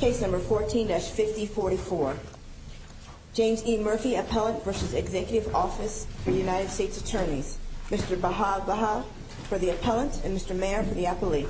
Case number 14-5044. James E. Murphy Appellant v. Executive Office for the United States Attorneys. Mr. Baha Baha for the appellant and Mr. Mayer for the appellee.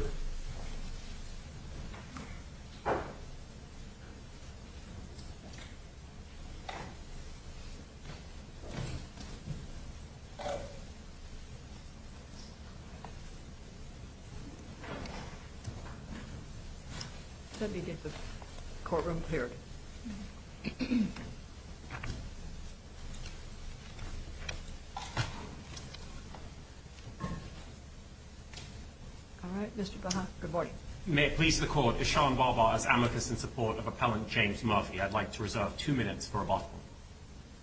May it please the Court, Ishaan Baha is amicus in support of Appellant James Murphy. I'd like to reserve two minutes for rebuttal.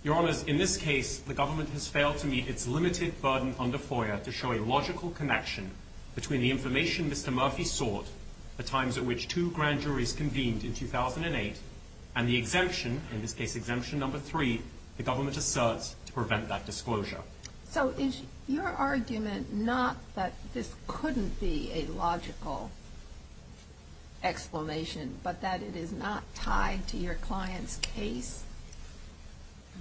Your Honours, in this case, the government has failed to meet its limited burden under FOIA to show a logical connection between the information Mr. Murphy sought, the times at which two grand juries convened in 2008, and the exemption, in this case exemption number three, the government asserts to prevent that disclosure. So is your argument not that this couldn't be a logical explanation, but that it is not tied to your client's case?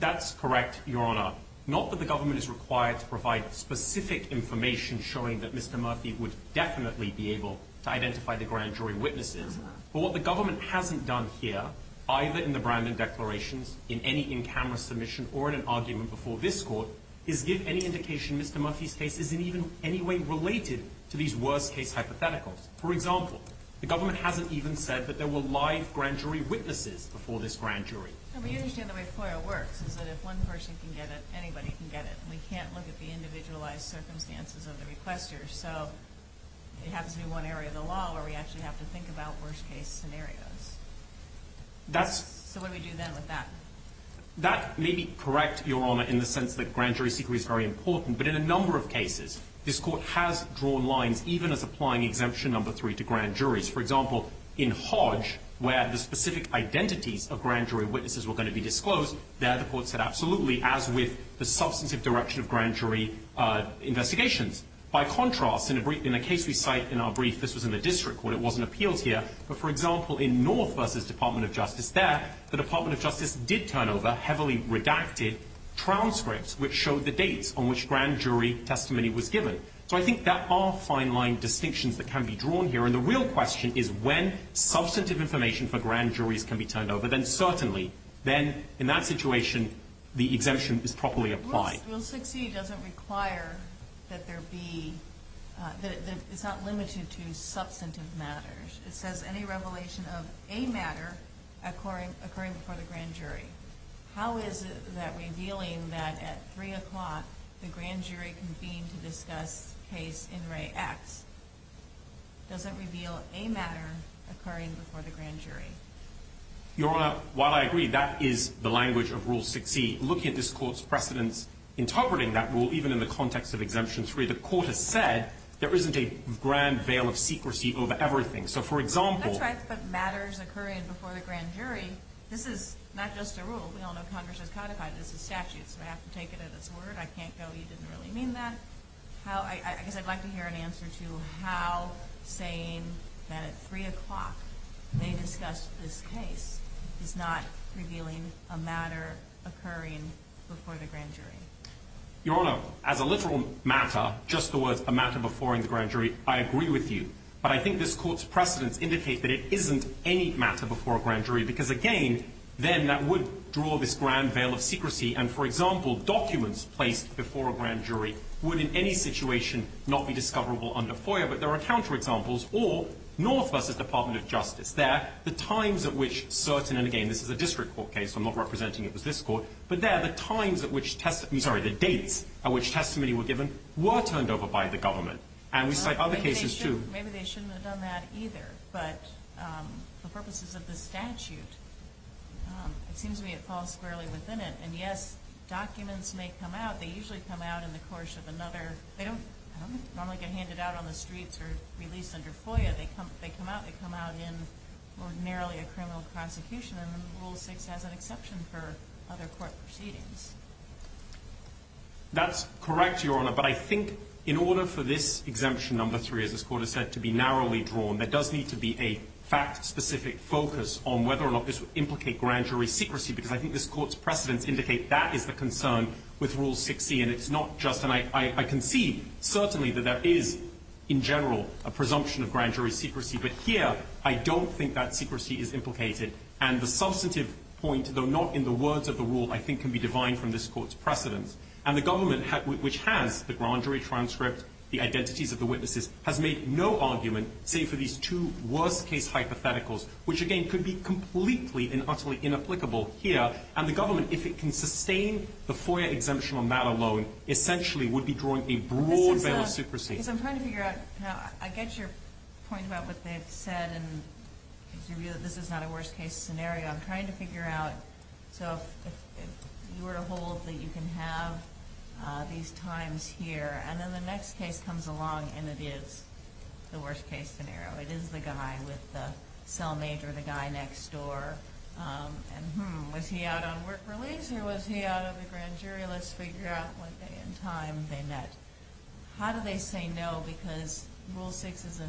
That's correct, Your Honour. Not that the government is required to provide specific information showing that Mr. Murphy would definitely be able to identify the grand jury witnesses. But what the government hasn't done here, either in the Brandon declarations, in any in-camera submission, or in an argument before this Court, is give any indication Mr. Murphy's case is in any way related to these worst-case hypotheticals. For example, the government hasn't even said that there were live grand jury witnesses before this grand jury. But you understand the way FOIA works, is that if one person can get it, anybody can get it. We can't look at the individualized circumstances of the requester, so it happens to be one area of the law where we actually have to think about worst-case scenarios. So what do we do then with that? That may be correct, Your Honour, in the sense that grand jury secrecy is very important, but in a number of cases this Court has drawn lines, even as applying Exemption No. 3 to grand juries. For example, in Hodge, where the specific identities of grand jury witnesses were going to be disclosed, there the Court said absolutely, as with the substantive direction of grand jury investigations. By contrast, in a case we cite in our brief, this was in the district court, it wasn't appealed here, but for example in North versus Department of Justice there, the Department of Justice did turn over heavily redacted transcripts which showed the dates on which grand jury testimony was given. So I think there are fine-line distinctions that can be drawn here, and the real question is when substantive information for grand juries can be turned over, then certainly, then in that situation, the exemption is properly applied. Rule 6e doesn't require that there be, it's not limited to substantive matters. It says any revelation of a matter occurring before the grand jury. How is that revealing that at 3 o'clock the grand jury convened to discuss case In Re X doesn't reveal a matter occurring before the grand jury? Your Honor, while I agree that is the language of Rule 6e, looking at this Court's precedence interpreting that rule, even in the context of Exemption 3, the Court has said there isn't a grand veil of secrecy over everything. So for example. That's right, but matters occurring before the grand jury, this is not just a rule. We all know Congress has codified this as a statute, so we have to take it at its word. I can't go, you didn't really mean that. I guess I'd like to hear an answer to how saying that at 3 o'clock they discussed this case is not revealing a matter occurring before the grand jury. Your Honor, as a literal matter, just the words a matter before the grand jury, I agree with you. But I think this Court's precedence indicates that it isn't any matter before a grand jury because again, then that would draw this grand veil of secrecy. And for example, documents placed before a grand jury would in any situation not be discoverable under FOIA. But there are counterexamples, or North versus Department of Justice. There, the times at which certain, and again, this is a district court case, so I'm not representing it was this Court. But there, the times at which, I'm sorry, the dates at which testimony were given were turned over by the government. And we cite other cases, too. Maybe they shouldn't have done that either. But for purposes of the statute, it seems to me it falls fairly within it. And yes, documents may come out. They usually come out in the course of another, they don't normally get handed out on the streets or released under FOIA. They come out, they come out in ordinarily a criminal prosecution. And Rule 6 has an exception for other court proceedings. That's correct, Your Honor. But I think in order for this exemption, number 3, as this Court has said, to be narrowly drawn, there does need to be a fact-specific focus on whether or not this would implicate grand jury secrecy. Because I think this Court's precedents indicate that is the concern with Rule 6C. And it's not just, and I can see certainly that there is in general a presumption of grand jury secrecy. But here, I don't think that secrecy is implicated. And the substantive point, though not in the words of the rule, I think can be divine from this Court's precedents. And the government, which has the grand jury transcript, the identities of the witnesses, has made no argument, save for these two worst-case hypotheticals, which again could be completely and utterly inapplicable here. And the government, if it can sustain the FOIA exemption on that alone, essentially would be drawing a broad veil of superstition. Because I'm trying to figure out, I get your point about what they've said, and this is not a worst-case scenario. I'm trying to figure out, so if you were to hold that you can have these times here, and then the next case comes along and it is the worst-case scenario. It is the guy with the cellmajor, the guy next door. And hmm, was he out on work release or was he out on the grand jury? Let's figure out what day and time they met. How do they say no? Because Rule 6 is a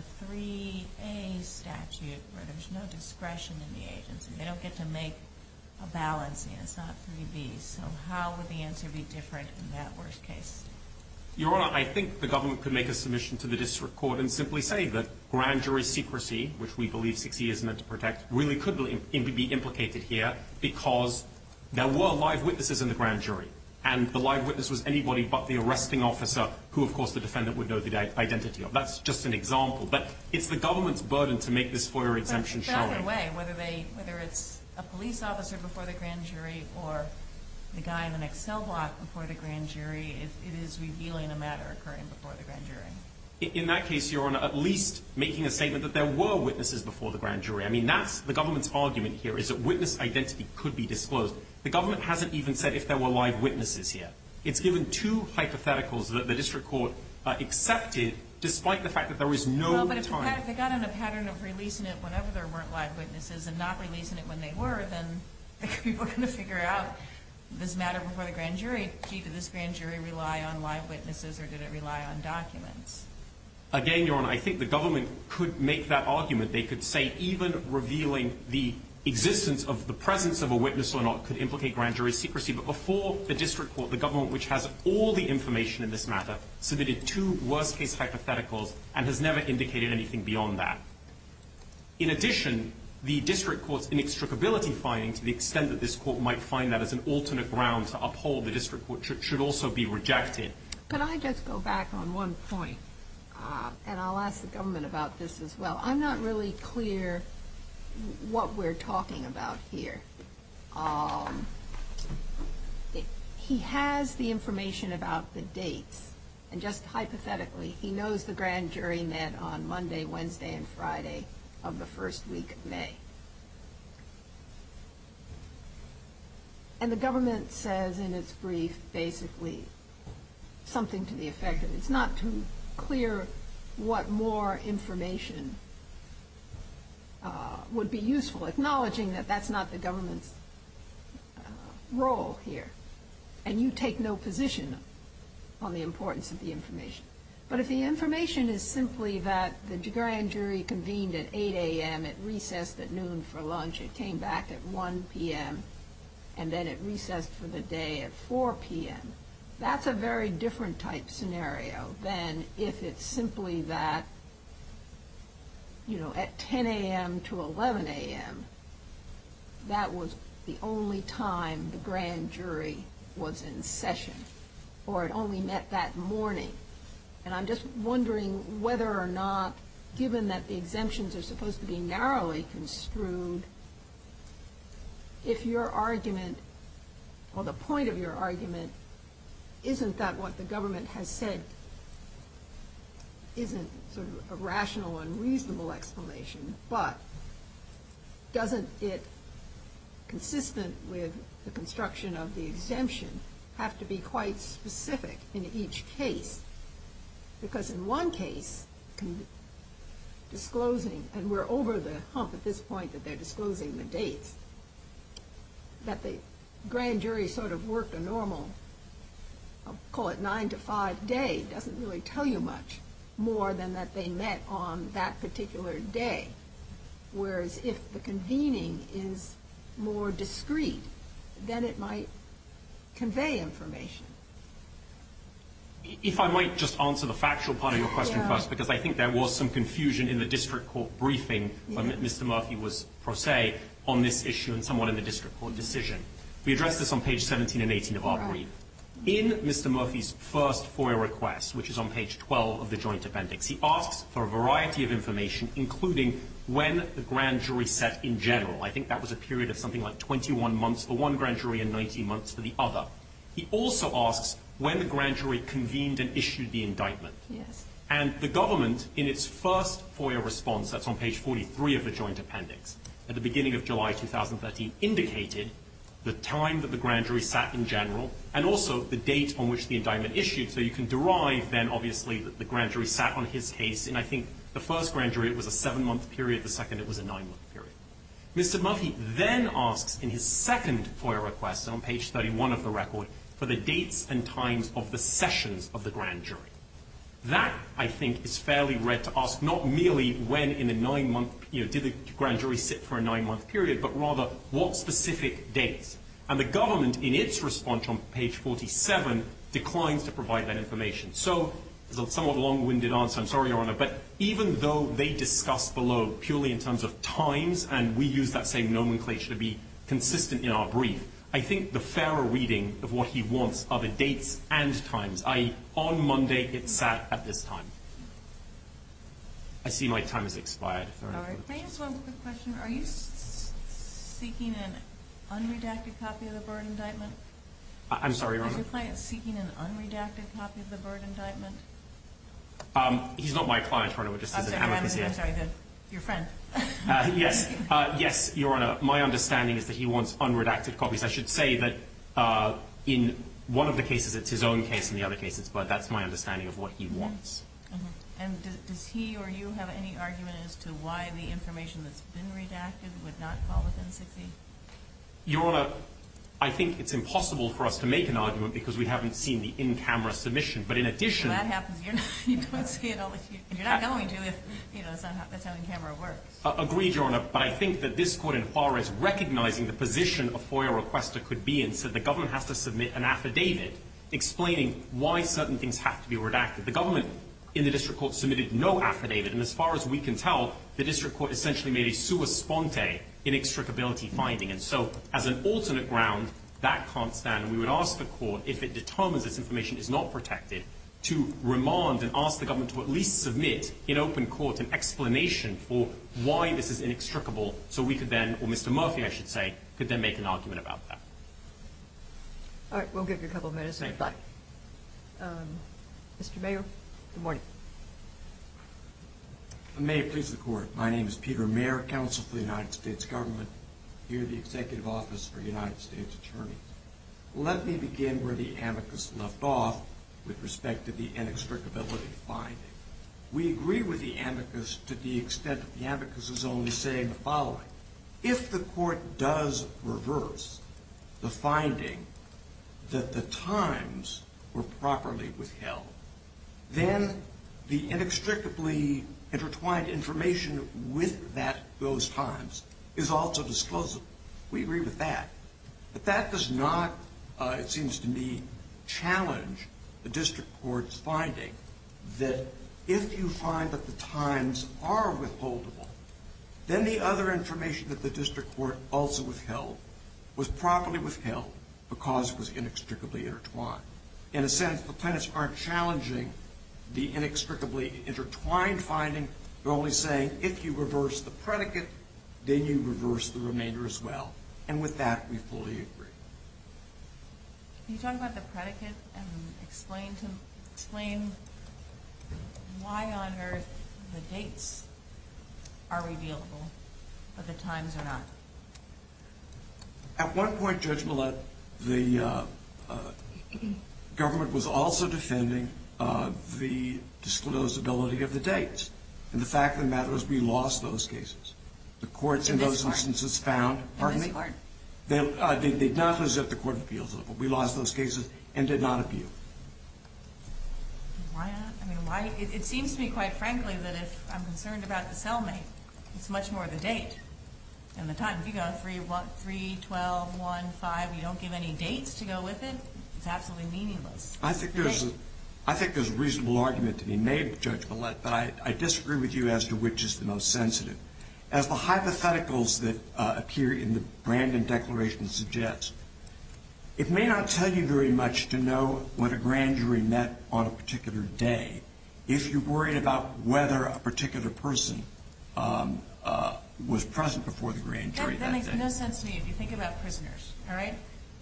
3A statute, where there's no discretion in the agency. They don't get to make a balance, and it's not 3B. So how would the answer be different in that worst case? Your Honor, I think the government could make a submission to the district court and simply say that grand jury secrecy, which we believe 6E is meant to protect, really could be implicated here because there were live witnesses in the grand jury. And the live witness was anybody but the arresting officer, who of course the defendant would know the identity of. That's just an example. But it's the government's burden to make this FOIA exemption showing. In a way, whether it's a police officer before the grand jury or the guy in the next cell block before the grand jury, it is revealing a matter occurring before the grand jury. In that case, Your Honor, at least making a statement that there were witnesses before the grand jury. I mean, that's the government's argument here is that witness identity could be disclosed. The government hasn't even said if there were live witnesses yet. It's given two hypotheticals that the district court accepted, despite the fact that there was no time. If they got in a pattern of releasing it whenever there weren't live witnesses and not releasing it when they were, then people are going to figure out this matter before the grand jury. Gee, did this grand jury rely on live witnesses or did it rely on documents? Again, Your Honor, I think the government could make that argument. They could say even revealing the existence of the presence of a witness or not could implicate grand jury secrecy. But before the district court, the government, which has all the information in this matter, submitted two worst-case hypotheticals and has never indicated anything beyond that. In addition, the district court's inextricability finding, to the extent that this court might find that as an alternate ground to uphold the district court, should also be rejected. Could I just go back on one point? And I'll ask the government about this as well. I'm not really clear what we're talking about here. He has the information about the dates, and just hypothetically, he knows the grand jury met on Monday, Wednesday, and Friday of the first week of May. And the government says in its brief basically something to the effect that it's not too clear what more information would be useful, acknowledging that that's not the government's role here. And you take no position on the importance of the information. But if the information is simply that the grand jury convened at 8 a.m., it recessed at noon for lunch, it came back at 1 p.m., and then it recessed for the day at 4 p.m., that's a very different type scenario than if it's simply that at 10 a.m. to 11 a.m. that was the only time the grand jury was in session, or it only met that morning. And I'm just wondering whether or not, given that the exemptions are supposed to be narrowly construed, if your argument, or the point of your argument, isn't that what the government has said isn't sort of a rational and reasonable explanation, but doesn't it, consistent with the construction of the exemption, have to be quite specific in each case? Because in one case, disclosing, and we're over the hump at this point that they're disclosing the dates, that the grand jury sort of worked a normal, I'll call it 9-to-5 day, doesn't really tell you much more than that they met on that particular day. Whereas if the convening is more discreet, then it might convey information. If I might just answer the factual part of your question first, because I think there was some confusion in the district court briefing when Mr. Murphy was pro se on this issue and somewhat in the district court decision. We addressed this on page 17 and 18 of our brief. In Mr. Murphy's first FOIA request, which is on page 12 of the joint appendix, he asks for a variety of information, including when the grand jury set in general. I think that was a period of something like 21 months for one grand jury and 19 months for the other. He also asks when the grand jury convened and issued the indictment. And the government, in its first FOIA response, that's on page 43 of the joint appendix, at the beginning of July 2013, indicated the time that the grand jury sat in general and also the date on which the indictment issued. So you can derive then, obviously, that the grand jury sat on his case. And I think the first grand jury, it was a seven-month period. The second, it was a nine-month period. Mr. Murphy then asks in his second FOIA request, on page 31 of the record, for the dates and times of the sessions of the grand jury. That, I think, is fairly rare to ask, not merely when in a nine-month, you know, did the grand jury sit for a nine-month period, but rather what specific dates. And the government, in its response on page 47, declines to provide that information. So it's a somewhat long-winded answer. I'm sorry, Your Honor, but even though they discuss below purely in terms of times and we use that same nomenclature to be consistent in our brief, I think the fairer reading of what he wants are the dates and times. On Monday, it sat at this time. I see my time has expired. All right. Can I ask one quick question? Are you seeking an unredacted copy of the Byrd indictment? I'm sorry, Your Honor. Is your client seeking an unredacted copy of the Byrd indictment? He's not my client, Your Honor. I'm sorry. Your friend. Yes. Yes, Your Honor. My understanding is that he wants unredacted copies. I should say that in one of the cases it's his own case and the other cases, but that's my understanding of what he wants. And does he or you have any argument as to why the information that's been redacted would not fall within 60? Your Honor, I think it's impossible for us to make an argument because we haven't seen the in-camera submission. But in addition to that. That happens. You don't see it. Agreed, Your Honor. But I think that this court in Juarez recognizing the position a FOIA requester could be in said the government has to submit an affidavit explaining why certain things have to be redacted. The government in the district court submitted no affidavit. And as far as we can tell, the district court essentially made a sua sponte inextricability finding. And so as an alternate ground, that can't stand. And we would ask the court if it determines this information is not protected to remand and ask the government to at least submit in open court an explanation for why this is inextricable. So we could then, or Mr. Murphy, I should say, could then make an argument about that. All right. We'll give you a couple minutes. Thank you. Mr. Mayor, good morning. May it please the court. My name is Peter Mayer, counsel for the United States government here at the Executive Office for United States Attorneys. Let me begin where the amicus left off with respect to the inextricability finding. We agree with the amicus to the extent that the amicus is only saying the following. If the court does reverse the finding that the times were properly withheld, then the inextricably intertwined information with those times is also disclosable. We agree with that. But that does not, it seems to me, challenge the district court's finding that if you find that the times are withholdable, then the other information that the district court also withheld was properly withheld because it was inextricably intertwined. In a sense, the plaintiffs aren't challenging the inextricably intertwined finding. They're only saying if you reverse the predicate, then you reverse the remainder as well. And with that, we fully agree. Can you talk about the predicate and explain why on earth the dates are revealable, but the times are not? At one point, Judge Millett, the government was also defending the disclosability of the dates. And the fact of the matter is we lost those cases. The courts in those instances found... In this court. They did not lose it at the court of appeals level. We lost those cases and did not appeal. Why not? I mean, why? It seems to me, quite frankly, that if I'm concerned about the cellmate, it's much more the date and the time. If you go on 3, 12, 1, 5, and you don't give any dates to go with it, it's absolutely meaningless. I think there's a reasonable argument to be made, Judge Millett, but I disagree with you as to which is the most sensitive. As the hypotheticals that appear in the Brandon Declaration suggest, it may not tell you very much to know when a grand jury met on a particular day if you're worried about whether a particular person was present before the grand jury that day. That makes no sense to me if you think about prisoners.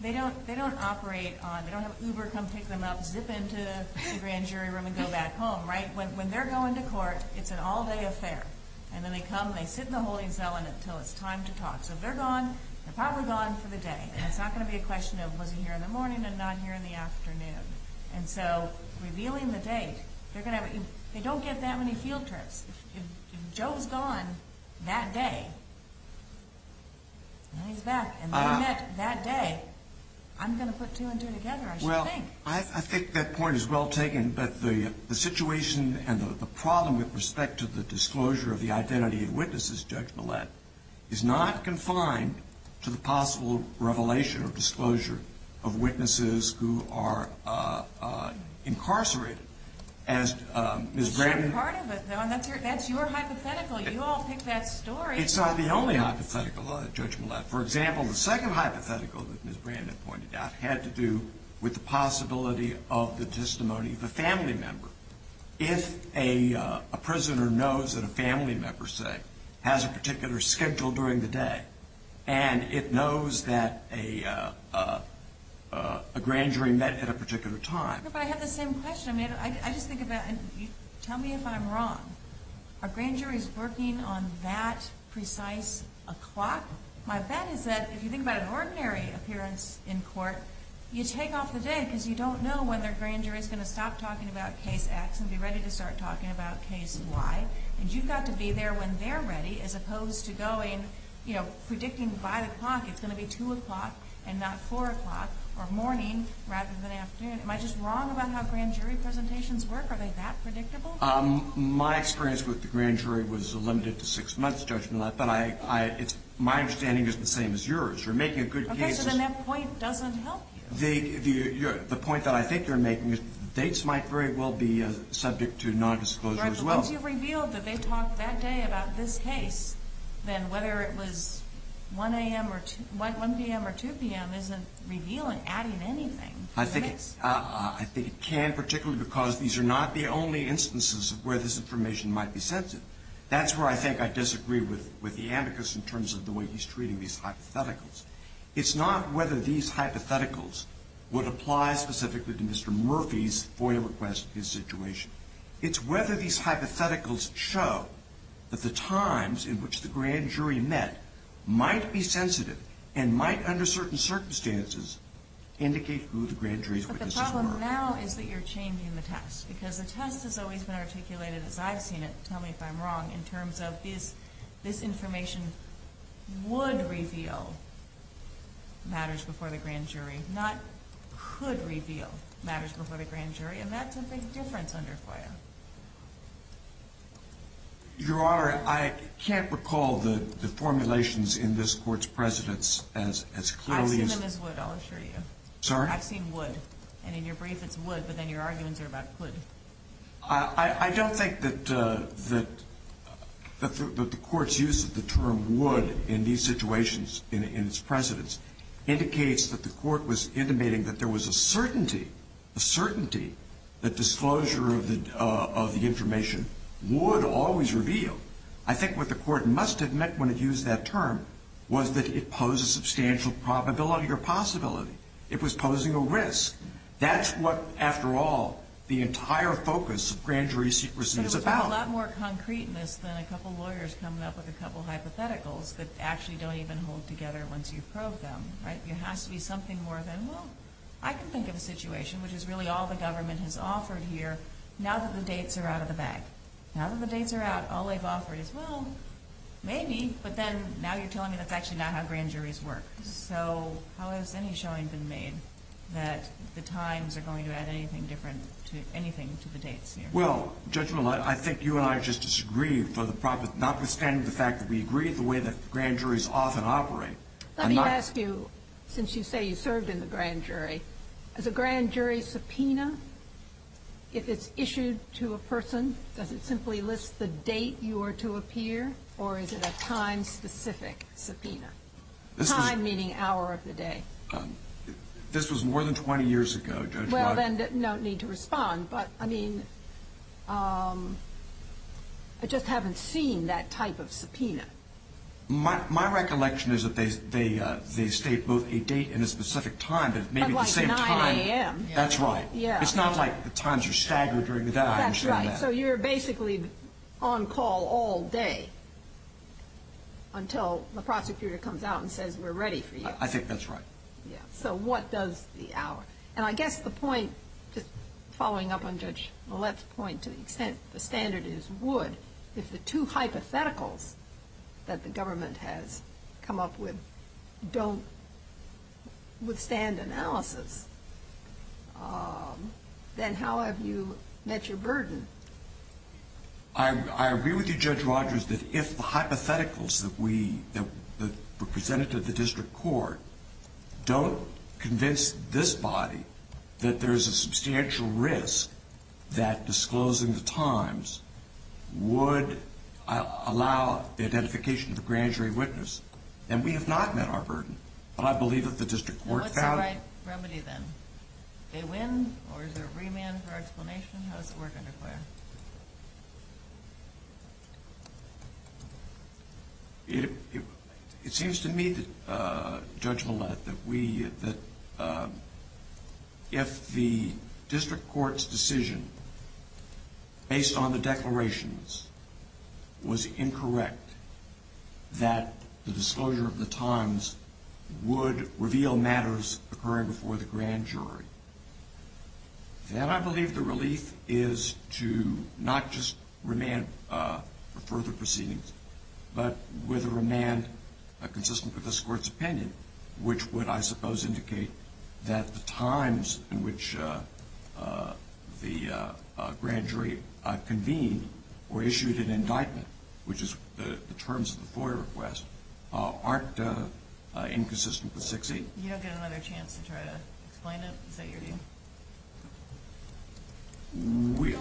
They don't operate on... They don't have Uber come pick them up, zip into the grand jury room, and go back home. When they're going to court, it's an all-day affair. Then they come, they sit in the holding cell until it's time to talk. If they're gone, they're probably gone for the day. It's not going to be a question of was he here in the morning and not here in the afternoon. Revealing the date, they don't get that many field trips. If Joe's gone that day, and he's back, and they met that day, I'm going to put two and two together, I should think. I think that point is well taken, but the situation and the problem with respect to the disclosure of the identity of witnesses, Judge Millett, is not confined to the possible revelation or disclosure of witnesses who are incarcerated. That's your hypothetical. You all picked that story. It's not the only hypothetical, Judge Millett. For example, the second hypothetical that Ms. Brandon pointed out had to do with the possibility of the testimony of a family member. If a prisoner knows that a family member, say, has a particular schedule during the day, and it knows that a grand jury met at a particular time. I have the same question. Tell me if I'm wrong. Are grand juries working on that precise o'clock? My bet is that if you think about an ordinary appearance in court, you take off the day because you don't know when their grand jury is going to stop talking about case X and be ready to start talking about case Y, and you've got to be there when they're ready as opposed to predicting by the clock it's going to be 2 o'clock and not 4 o'clock or morning rather than afternoon. Am I just wrong about how grand jury presentations work? Are they that predictable? My experience with the grand jury was limited to six months, Judge Millett, but my understanding is the same as yours. You're making a good case. Okay, so then that point doesn't help you. The point that I think you're making is dates might very well be subject to nondisclosure as well. Right, but once you've revealed that they talked that day about this case, then whether it was 1 a.m. or 2 p.m. isn't revealing, adding anything. I think it can, particularly because these are not the only instances where this information might be sensitive. That's where I think I disagree with the amicus in terms of the way he's treating these hypotheticals. It's not whether these hypotheticals would apply specifically to Mr. Murphy's FOIA request and his situation. It's whether these hypotheticals show that the times in which the grand jury met might be sensitive and might, under certain circumstances, indicate who the grand jury's witnesses were. But the problem now is that you're changing the test, because the test has always been articulated, as I've seen it, tell me if I'm wrong, in terms of this information would reveal matters before the grand jury, not could reveal matters before the grand jury, and that's a big difference under FOIA. Your Honor, I can't recall the formulations in this court's precedents as clearly. I've seen them as would, I'll assure you. Sorry? I've seen would, and in your brief it's would, but then your arguments are about could. I don't think that the court's use of the term would in these situations in its precedents indicates that the court was intimating that there was a certainty, a certainty that disclosure of the information would always reveal. I think what the court must have meant when it used that term was that it posed a substantial probability or possibility. It was posing a risk. That's what, after all, the entire focus of grand jury secrecy is about. There's a lot more concreteness than a couple lawyers coming up with a couple hypotheticals that actually don't even hold together once you've probed them. There has to be something more than, well, I can think of a situation, which is really all the government has offered here, now that the dates are out of the bag. Now that the dates are out, all they've offered is, well, maybe, but then now you're telling me that's actually not how grand juries work. So how has any showing been made that the times are going to add anything different to anything to the dates here? Well, Judge Millett, I think you and I just disagree, notwithstanding the fact that we agree with the way that grand juries often operate. Let me ask you, since you say you served in the grand jury, is a grand jury subpoena, if it's issued to a person, does it simply list the date you are to appear, or is it a time-specific subpoena? Time meaning hour of the day. This was more than 20 years ago, Judge Millett. Well, then no need to respond, but, I mean, I just haven't seen that type of subpoena. My recollection is that they state both a date and a specific time, but maybe the same time. But like 9 a.m. That's right. It's not like the times are staggered during the day. So you're basically on call all day until the prosecutor comes out and says, we're ready for you. I think that's right. So what does the hour? And I guess the point, just following up on Judge Millett's point to the extent the standard is would, if the two hypotheticals that the government has come up with don't withstand analysis, then how have you met your burden? I agree with you, Judge Rodgers, that if the hypotheticals that were presented to the district court don't convince this body that there is a substantial risk that disclosing the times would allow the identification of the grand jury witness, then we have not met our burden. But I believe that the district court found it. What's the right remedy then? They win, or is there a remand for explanation? How does it work under CLARE? It seems to me, Judge Millett, that if the district court's decision based on the declarations was incorrect, that the disclosure of the times would reveal matters occurring before the grand jury, then I believe the relief is to not just remand for further proceedings, but with a remand consistent with this court's opinion, which would, I suppose, indicate that the times in which the grand jury convened or issued an indictment, which is the terms of the FOIA request, aren't inconsistent with 6-8. You don't get another chance to try to explain it? Is that your view? We...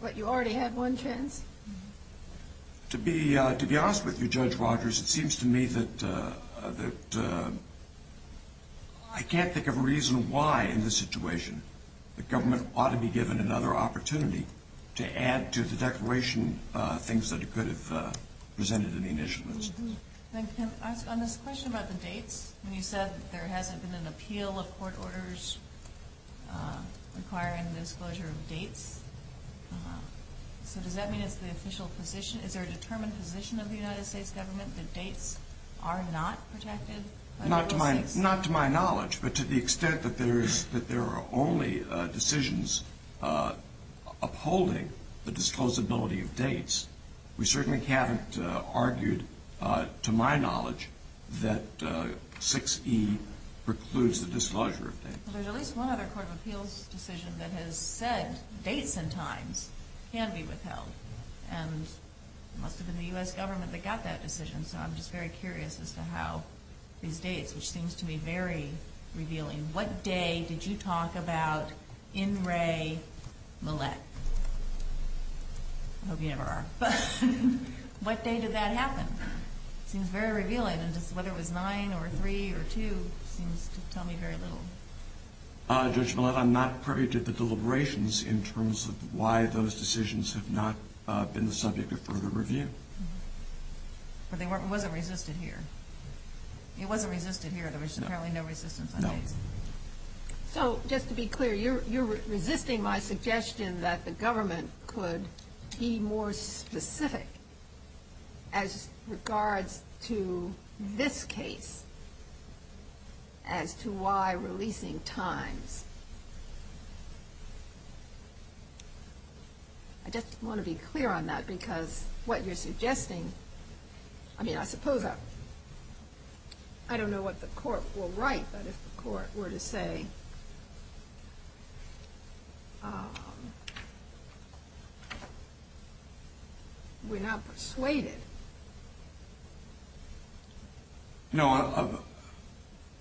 What, you already had one chance? To be honest with you, Judge Rogers, it seems to me that I can't think of a reason why in this situation the government ought to be given another opportunity to add to the declaration things that it could have presented in the initials. On this question about the dates, you said there hasn't been an appeal of court orders requiring the disclosure of dates. So does that mean it's the official position? Is there a determined position of the United States government that dates are not protected? Not to my knowledge, but to the extent that there are only decisions upholding the disclosability of dates, we certainly haven't argued, to my knowledge, that 6-E precludes the disclosure of dates. Well, there's at least one other Court of Appeals decision that has said dates and times can be withheld. And it must have been the U.S. government that got that decision, so I'm just very curious as to how these dates, which seems to me very revealing, what day did you talk about in re mullet? I hope you never are. What day did that happen? It seems very revealing, and whether it was 9 or 3 or 2 seems to tell me very little. Judge Millett, I'm not privy to the deliberations in terms of why those decisions have not been the subject of further review. But it wasn't resisted here. It wasn't resisted here. No. So, just to be clear, you're resisting my suggestion that the government could be more specific as regards to this case as to why releasing times. I just want to be clear on that because what you're suggesting, I mean, I suppose I don't know what the Court will write, but if the Court were to say we're not persuaded. No.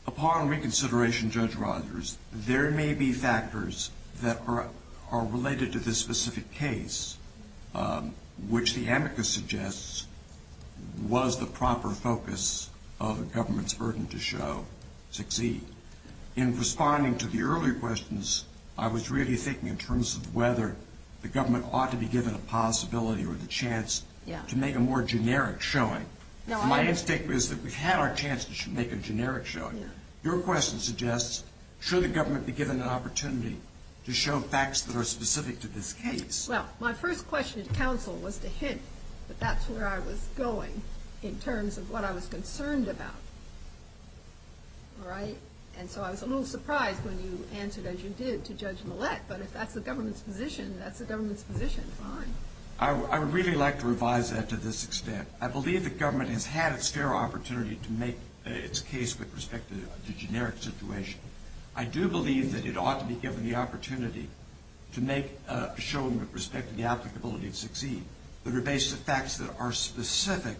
Upon reconsideration, Judge Rogers, there may be factors that are related to this specific case, which the amicus suggests was the proper focus of the government's burden to show, succeed. In responding to the earlier questions, I was really thinking in terms of whether the government ought to be given a possibility or the chance to make a more generic showing. My instinct is that we've had our chance to make a generic showing. Your question suggests, should the government be given an opportunity to show facts that are specific to this case? Well, my first question to counsel was to hint that that's where I was going in terms of what I was concerned about. All right? And so I was a little surprised when you answered as you did to Judge Millett, but if that's the government's position, that's the government's position. Fine. I would really like to revise that to this extent. I believe the government has had its fair opportunity to make its case with respect to the generic situation. I do believe that it ought to be given the opportunity to make a showing with respect to the applicability of succeed that are based on facts that are specific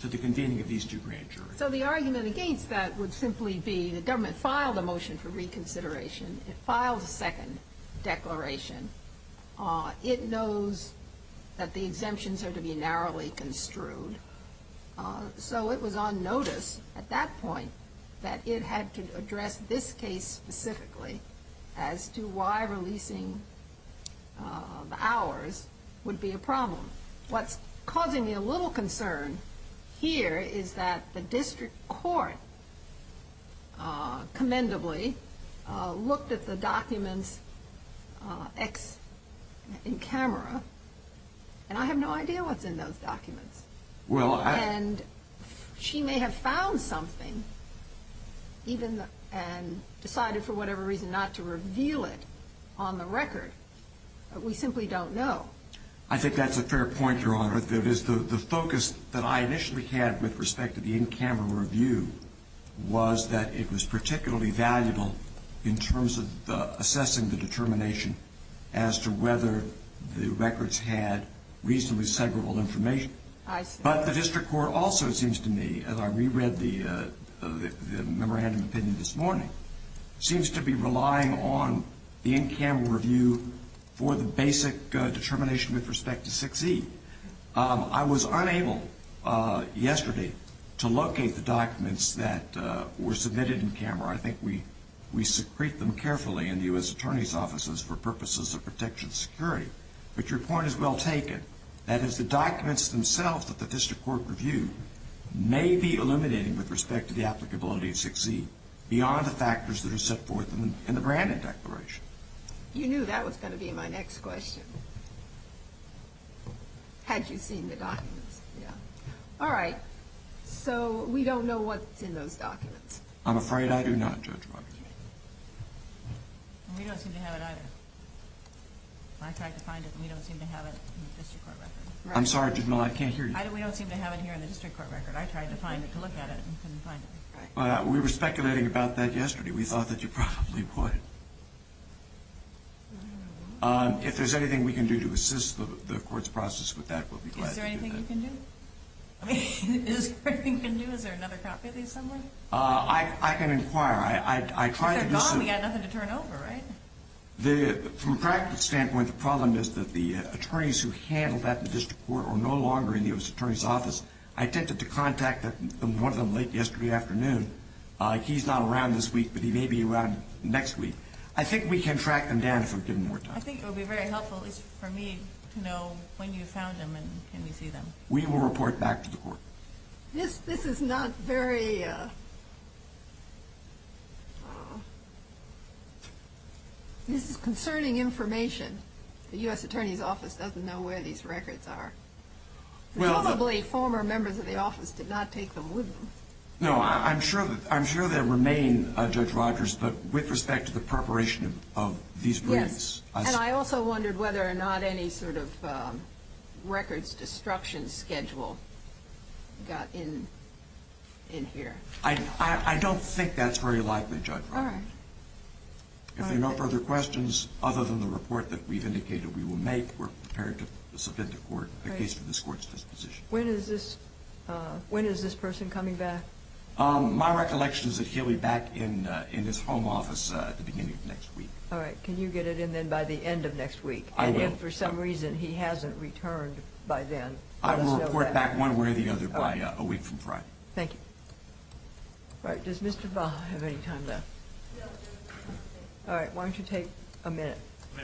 to the convening of these two grand juries. So the argument against that would simply be the government filed a motion for reconsideration. It filed a second declaration. It knows that the exemptions are to be narrowly construed. So it was on notice at that point that it had to address this case specifically as to why releasing the hours would be a problem. What's causing me a little concern here is that the district court commendably looked at the documents in camera, and I have no idea what's in those documents. And she may have found something and decided for whatever reason not to reveal it on the record. We simply don't know. I think that's a fair point, Your Honor. The focus that I initially had with respect to the in-camera review was that it was particularly valuable in terms of assessing the determination as to whether the records had reasonably severable information. But the district court also, it seems to me, as I reread the memorandum opinion this morning, seems to be relying on the in-camera review for the basic determination with respect to succeed. I was unable yesterday to locate the documents that were submitted in camera. I think we secrete them carefully in the U.S. Attorney's offices for purposes of protection of security. But your point is well taken. That is, the documents themselves that the district court reviewed may be illuminating with respect to the applicability of succeed beyond the factors that are set forth in the Brandon Declaration. You knew that was going to be my next question. Had you seen the documents? Yeah. All right. So we don't know what's in those documents. I'm afraid I do not, Judge Roberts. We don't seem to have it either. I tried to find it, and we don't seem to have it in the district court record. I'm sorry, Judge Mill. I can't hear you. We don't seem to have it here in the district court record. I tried to find it, to look at it, and couldn't find it. We were speculating about that yesterday. We thought that you probably would. If there's anything we can do to assist the court's process with that, we'll be glad to do that. Is there anything you can do? I mean, is there anything you can do? Is there another copy of these somewhere? I can inquire. If they're gone, we've got nothing to turn over, right? From a practical standpoint, the problem is that the attorneys who handled that in the district court are no longer in the attorney's office. I attempted to contact one of them late yesterday afternoon. He's not around this week, but he may be around next week. I think we can track them down if we're given more time. I think it would be very helpful, at least for me, to know when you found them and can we see them. We will report back to the court. This is not very… This is concerning information. The U.S. Attorney's Office doesn't know where these records are. Probably former members of the office did not take them with them. No, I'm sure they remain, Judge Rogers, but with respect to the preparation of these blanks. And I also wondered whether or not any sort of records destruction schedule got in here. I don't think that's very likely, Judge Rogers. If there are no further questions, other than the report that we've indicated we will make, we're prepared to submit to court a case for this court's disposition. When is this person coming back? My recollection is that he'll be back in his home office at the beginning of next week. All right. Can you get it in then by the end of next week? I will. And if for some reason he hasn't returned by then, let us know then. I will report back one way or the other by a week from Friday. Thank you. All right. Does Mr. Baha have any time left? No, Judge. All right. Why don't you take a minute? A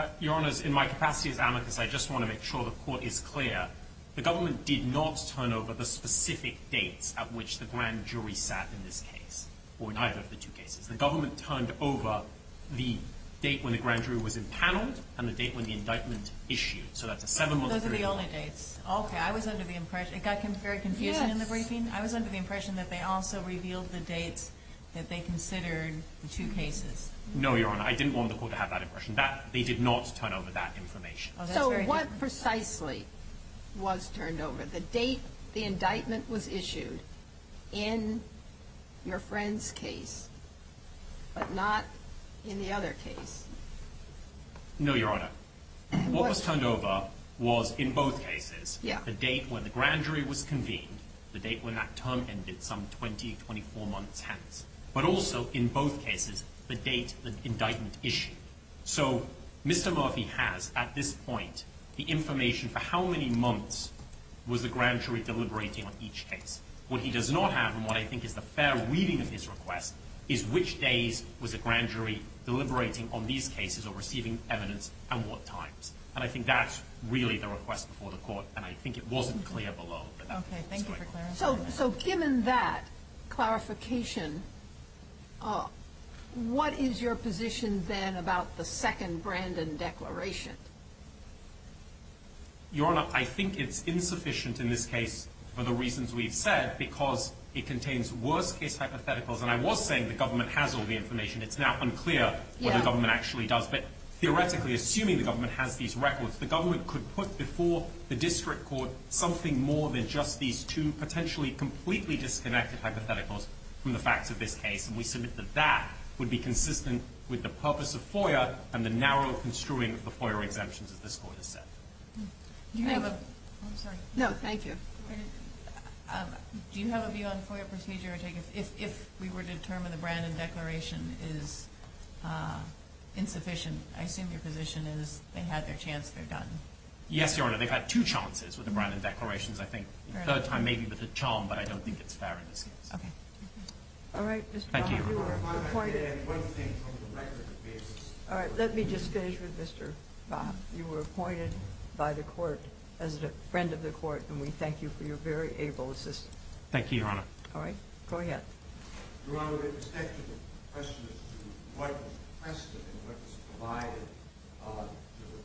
minute. Your Honors, in my capacity as amicus, I just want to make sure the court is clear. The government did not turn over the specific dates at which the grand jury sat in this case, or neither of the two cases. The government turned over the date when the grand jury was impaneled and the date when the indictment issued. So that's a seven-month period. Those are the only dates. Okay. I was under the impression, it got very confusing in the briefing, I was under the impression that they also revealed the dates that they considered the two cases. No, Your Honor. I didn't want the court to have that impression. They did not turn over that information. So what precisely was turned over? The date the indictment was issued in your friend's case, but not in the other case? No, Your Honor. What was turned over was, in both cases, the date when the grand jury was convened, the date when that term ended, some 20, 24 months hence. But also, in both cases, the date the indictment issued. So Mr. Murphy has, at this point, the information for how many months was the grand jury deliberating on each case. What he does not have, and what I think is the fair reading of his request, is which days was the grand jury deliberating on these cases or receiving evidence and what times. And I think that's really the request before the court, and I think it wasn't clear below. Okay. Thank you for clarifying that. So given that clarification, what is your position then about the second Brandon Declaration? Your Honor, I think it's insufficient in this case for the reasons we've said, because it contains worst-case hypotheticals. And I was saying the government has all the information. It's now unclear what the government actually does. But theoretically, assuming the government has these records, the government could put before the district court something more than just these two potentially completely disconnected hypotheticals from the facts of this case. And we submit that that would be consistent with the purpose of FOIA and the narrow construing of the FOIA exemptions, as this Court has said. Do you have a view on FOIA procedure? If we were to determine the Brandon Declaration is insufficient, I assume your position is they had their chance, they're done. Yes, Your Honor. They've had two chances with the Brandon Declaration. I think the third time maybe with the charm, but I don't think it's fair in this case. Okay. All right. Thank you, Your Honor. Let me just finish with Mr. Bach. You were appointed by the Court as a friend of the Court, and we thank you for your very able assistance. Thank you, Your Honor. All right. Go ahead. Your Honor, with respect to the question as to what was requested and what was provided to the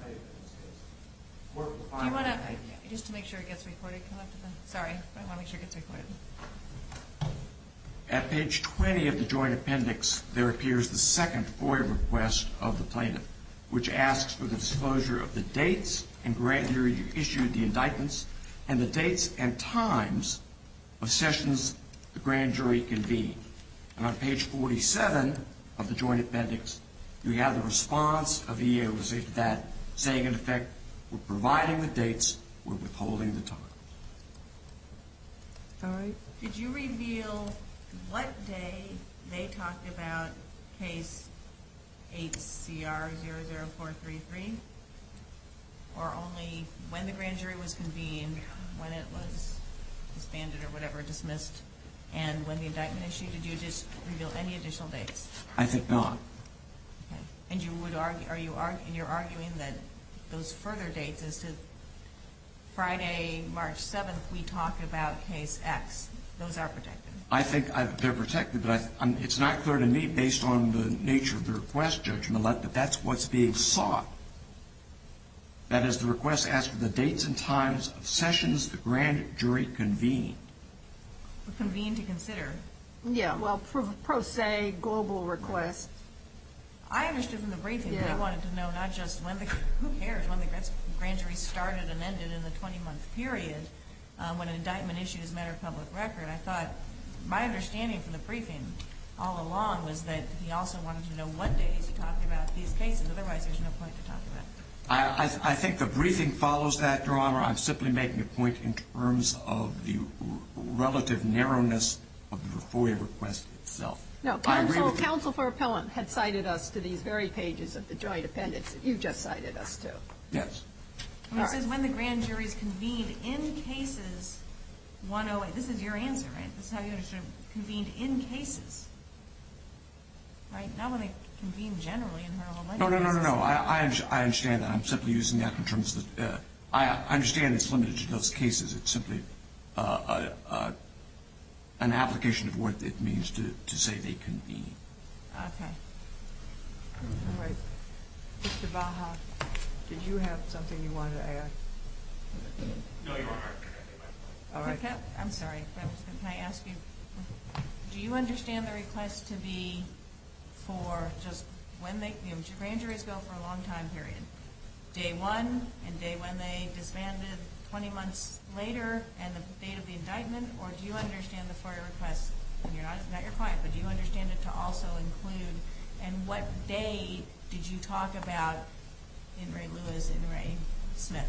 plaintiff in this case, the Court will find that. Just to make sure it gets recorded. Sorry. I want to make sure it gets recorded. At page 20 of the Joint Appendix, there appears the second FOIA request of the plaintiff, which asks for the disclosure of the dates in which you issued the indictments and the dates and times of sessions the grand jury convened. And on page 47 of the Joint Appendix, you have the response of the EEOC to that, saying, in effect, we're providing the dates. We're withholding the time. All right. Did you reveal what day they talked about Case 8CR-00433, or only when the grand jury was convened, when it was disbanded or whatever, dismissed, and when the indictment issued? Did you just reveal any additional dates? I did not. And you're arguing that those further dates as to Friday, March 7th, we talk about Case X. Those are protected. I think they're protected, but it's not clear to me, based on the nature of the request, Judge Millett, that that's what's being sought. That is, the request asks for the dates and times of sessions the grand jury convened. Convened to consider. Yeah, well, pro se, global request. I understood from the briefing that they wanted to know not just when the grand jury started and ended in the 20-month period when an indictment issued as a matter of public record. I thought my understanding from the briefing all along was that he also wanted to know what days he talked about these cases. Otherwise, there's no point to talk about. I think the briefing follows that, Your Honor. I'm simply making a point in terms of the relative narrowness of the FOIA request itself. No. Counsel for Appellant had cited us to these very pages of the joint appendix that you just cited us to. Yes. It says, when the grand jury is convened in cases 108. This is your answer, right? This is how you understood it. Convened in cases. Right? Not when they convened generally. No, no, no, no, no. I understand that. I'm simply using that in terms of, I understand it's limited to those cases. It's simply an application of what it means to say they convened. Okay. All right. Mr. Baja, did you have something you wanted to add? No, Your Honor. All right. I'm sorry. Can I ask you, do you understand the request to be for just when they, the grand jury's bill for a long time period, day one and day when they disbanded 20 months later and the date of the indictment, or do you understand the FOIA request, and not your client, but do you understand it to also include and what day did you talk about in Ray Lewis and Ray Smith?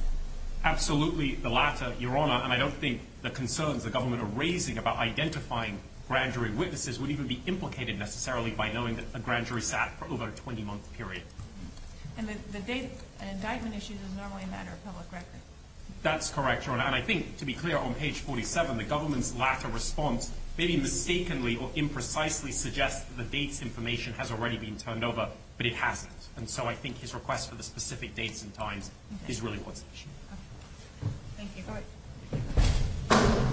Absolutely the latter, Your Honor, and I don't think the concerns the government are raising about identifying grand jury witnesses would even be implicated necessarily by knowing that a grand jury sat for over a 20-month period. And the date indictment issue is normally a matter of public record. That's correct, Your Honor. And I think, to be clear, on page 47, the government's latter response maybe mistakenly or imprecisely suggests that the dates information has already been turned over, but it hasn't. And so I think his request for the specific dates and times is really what's at issue. Thank you. All right.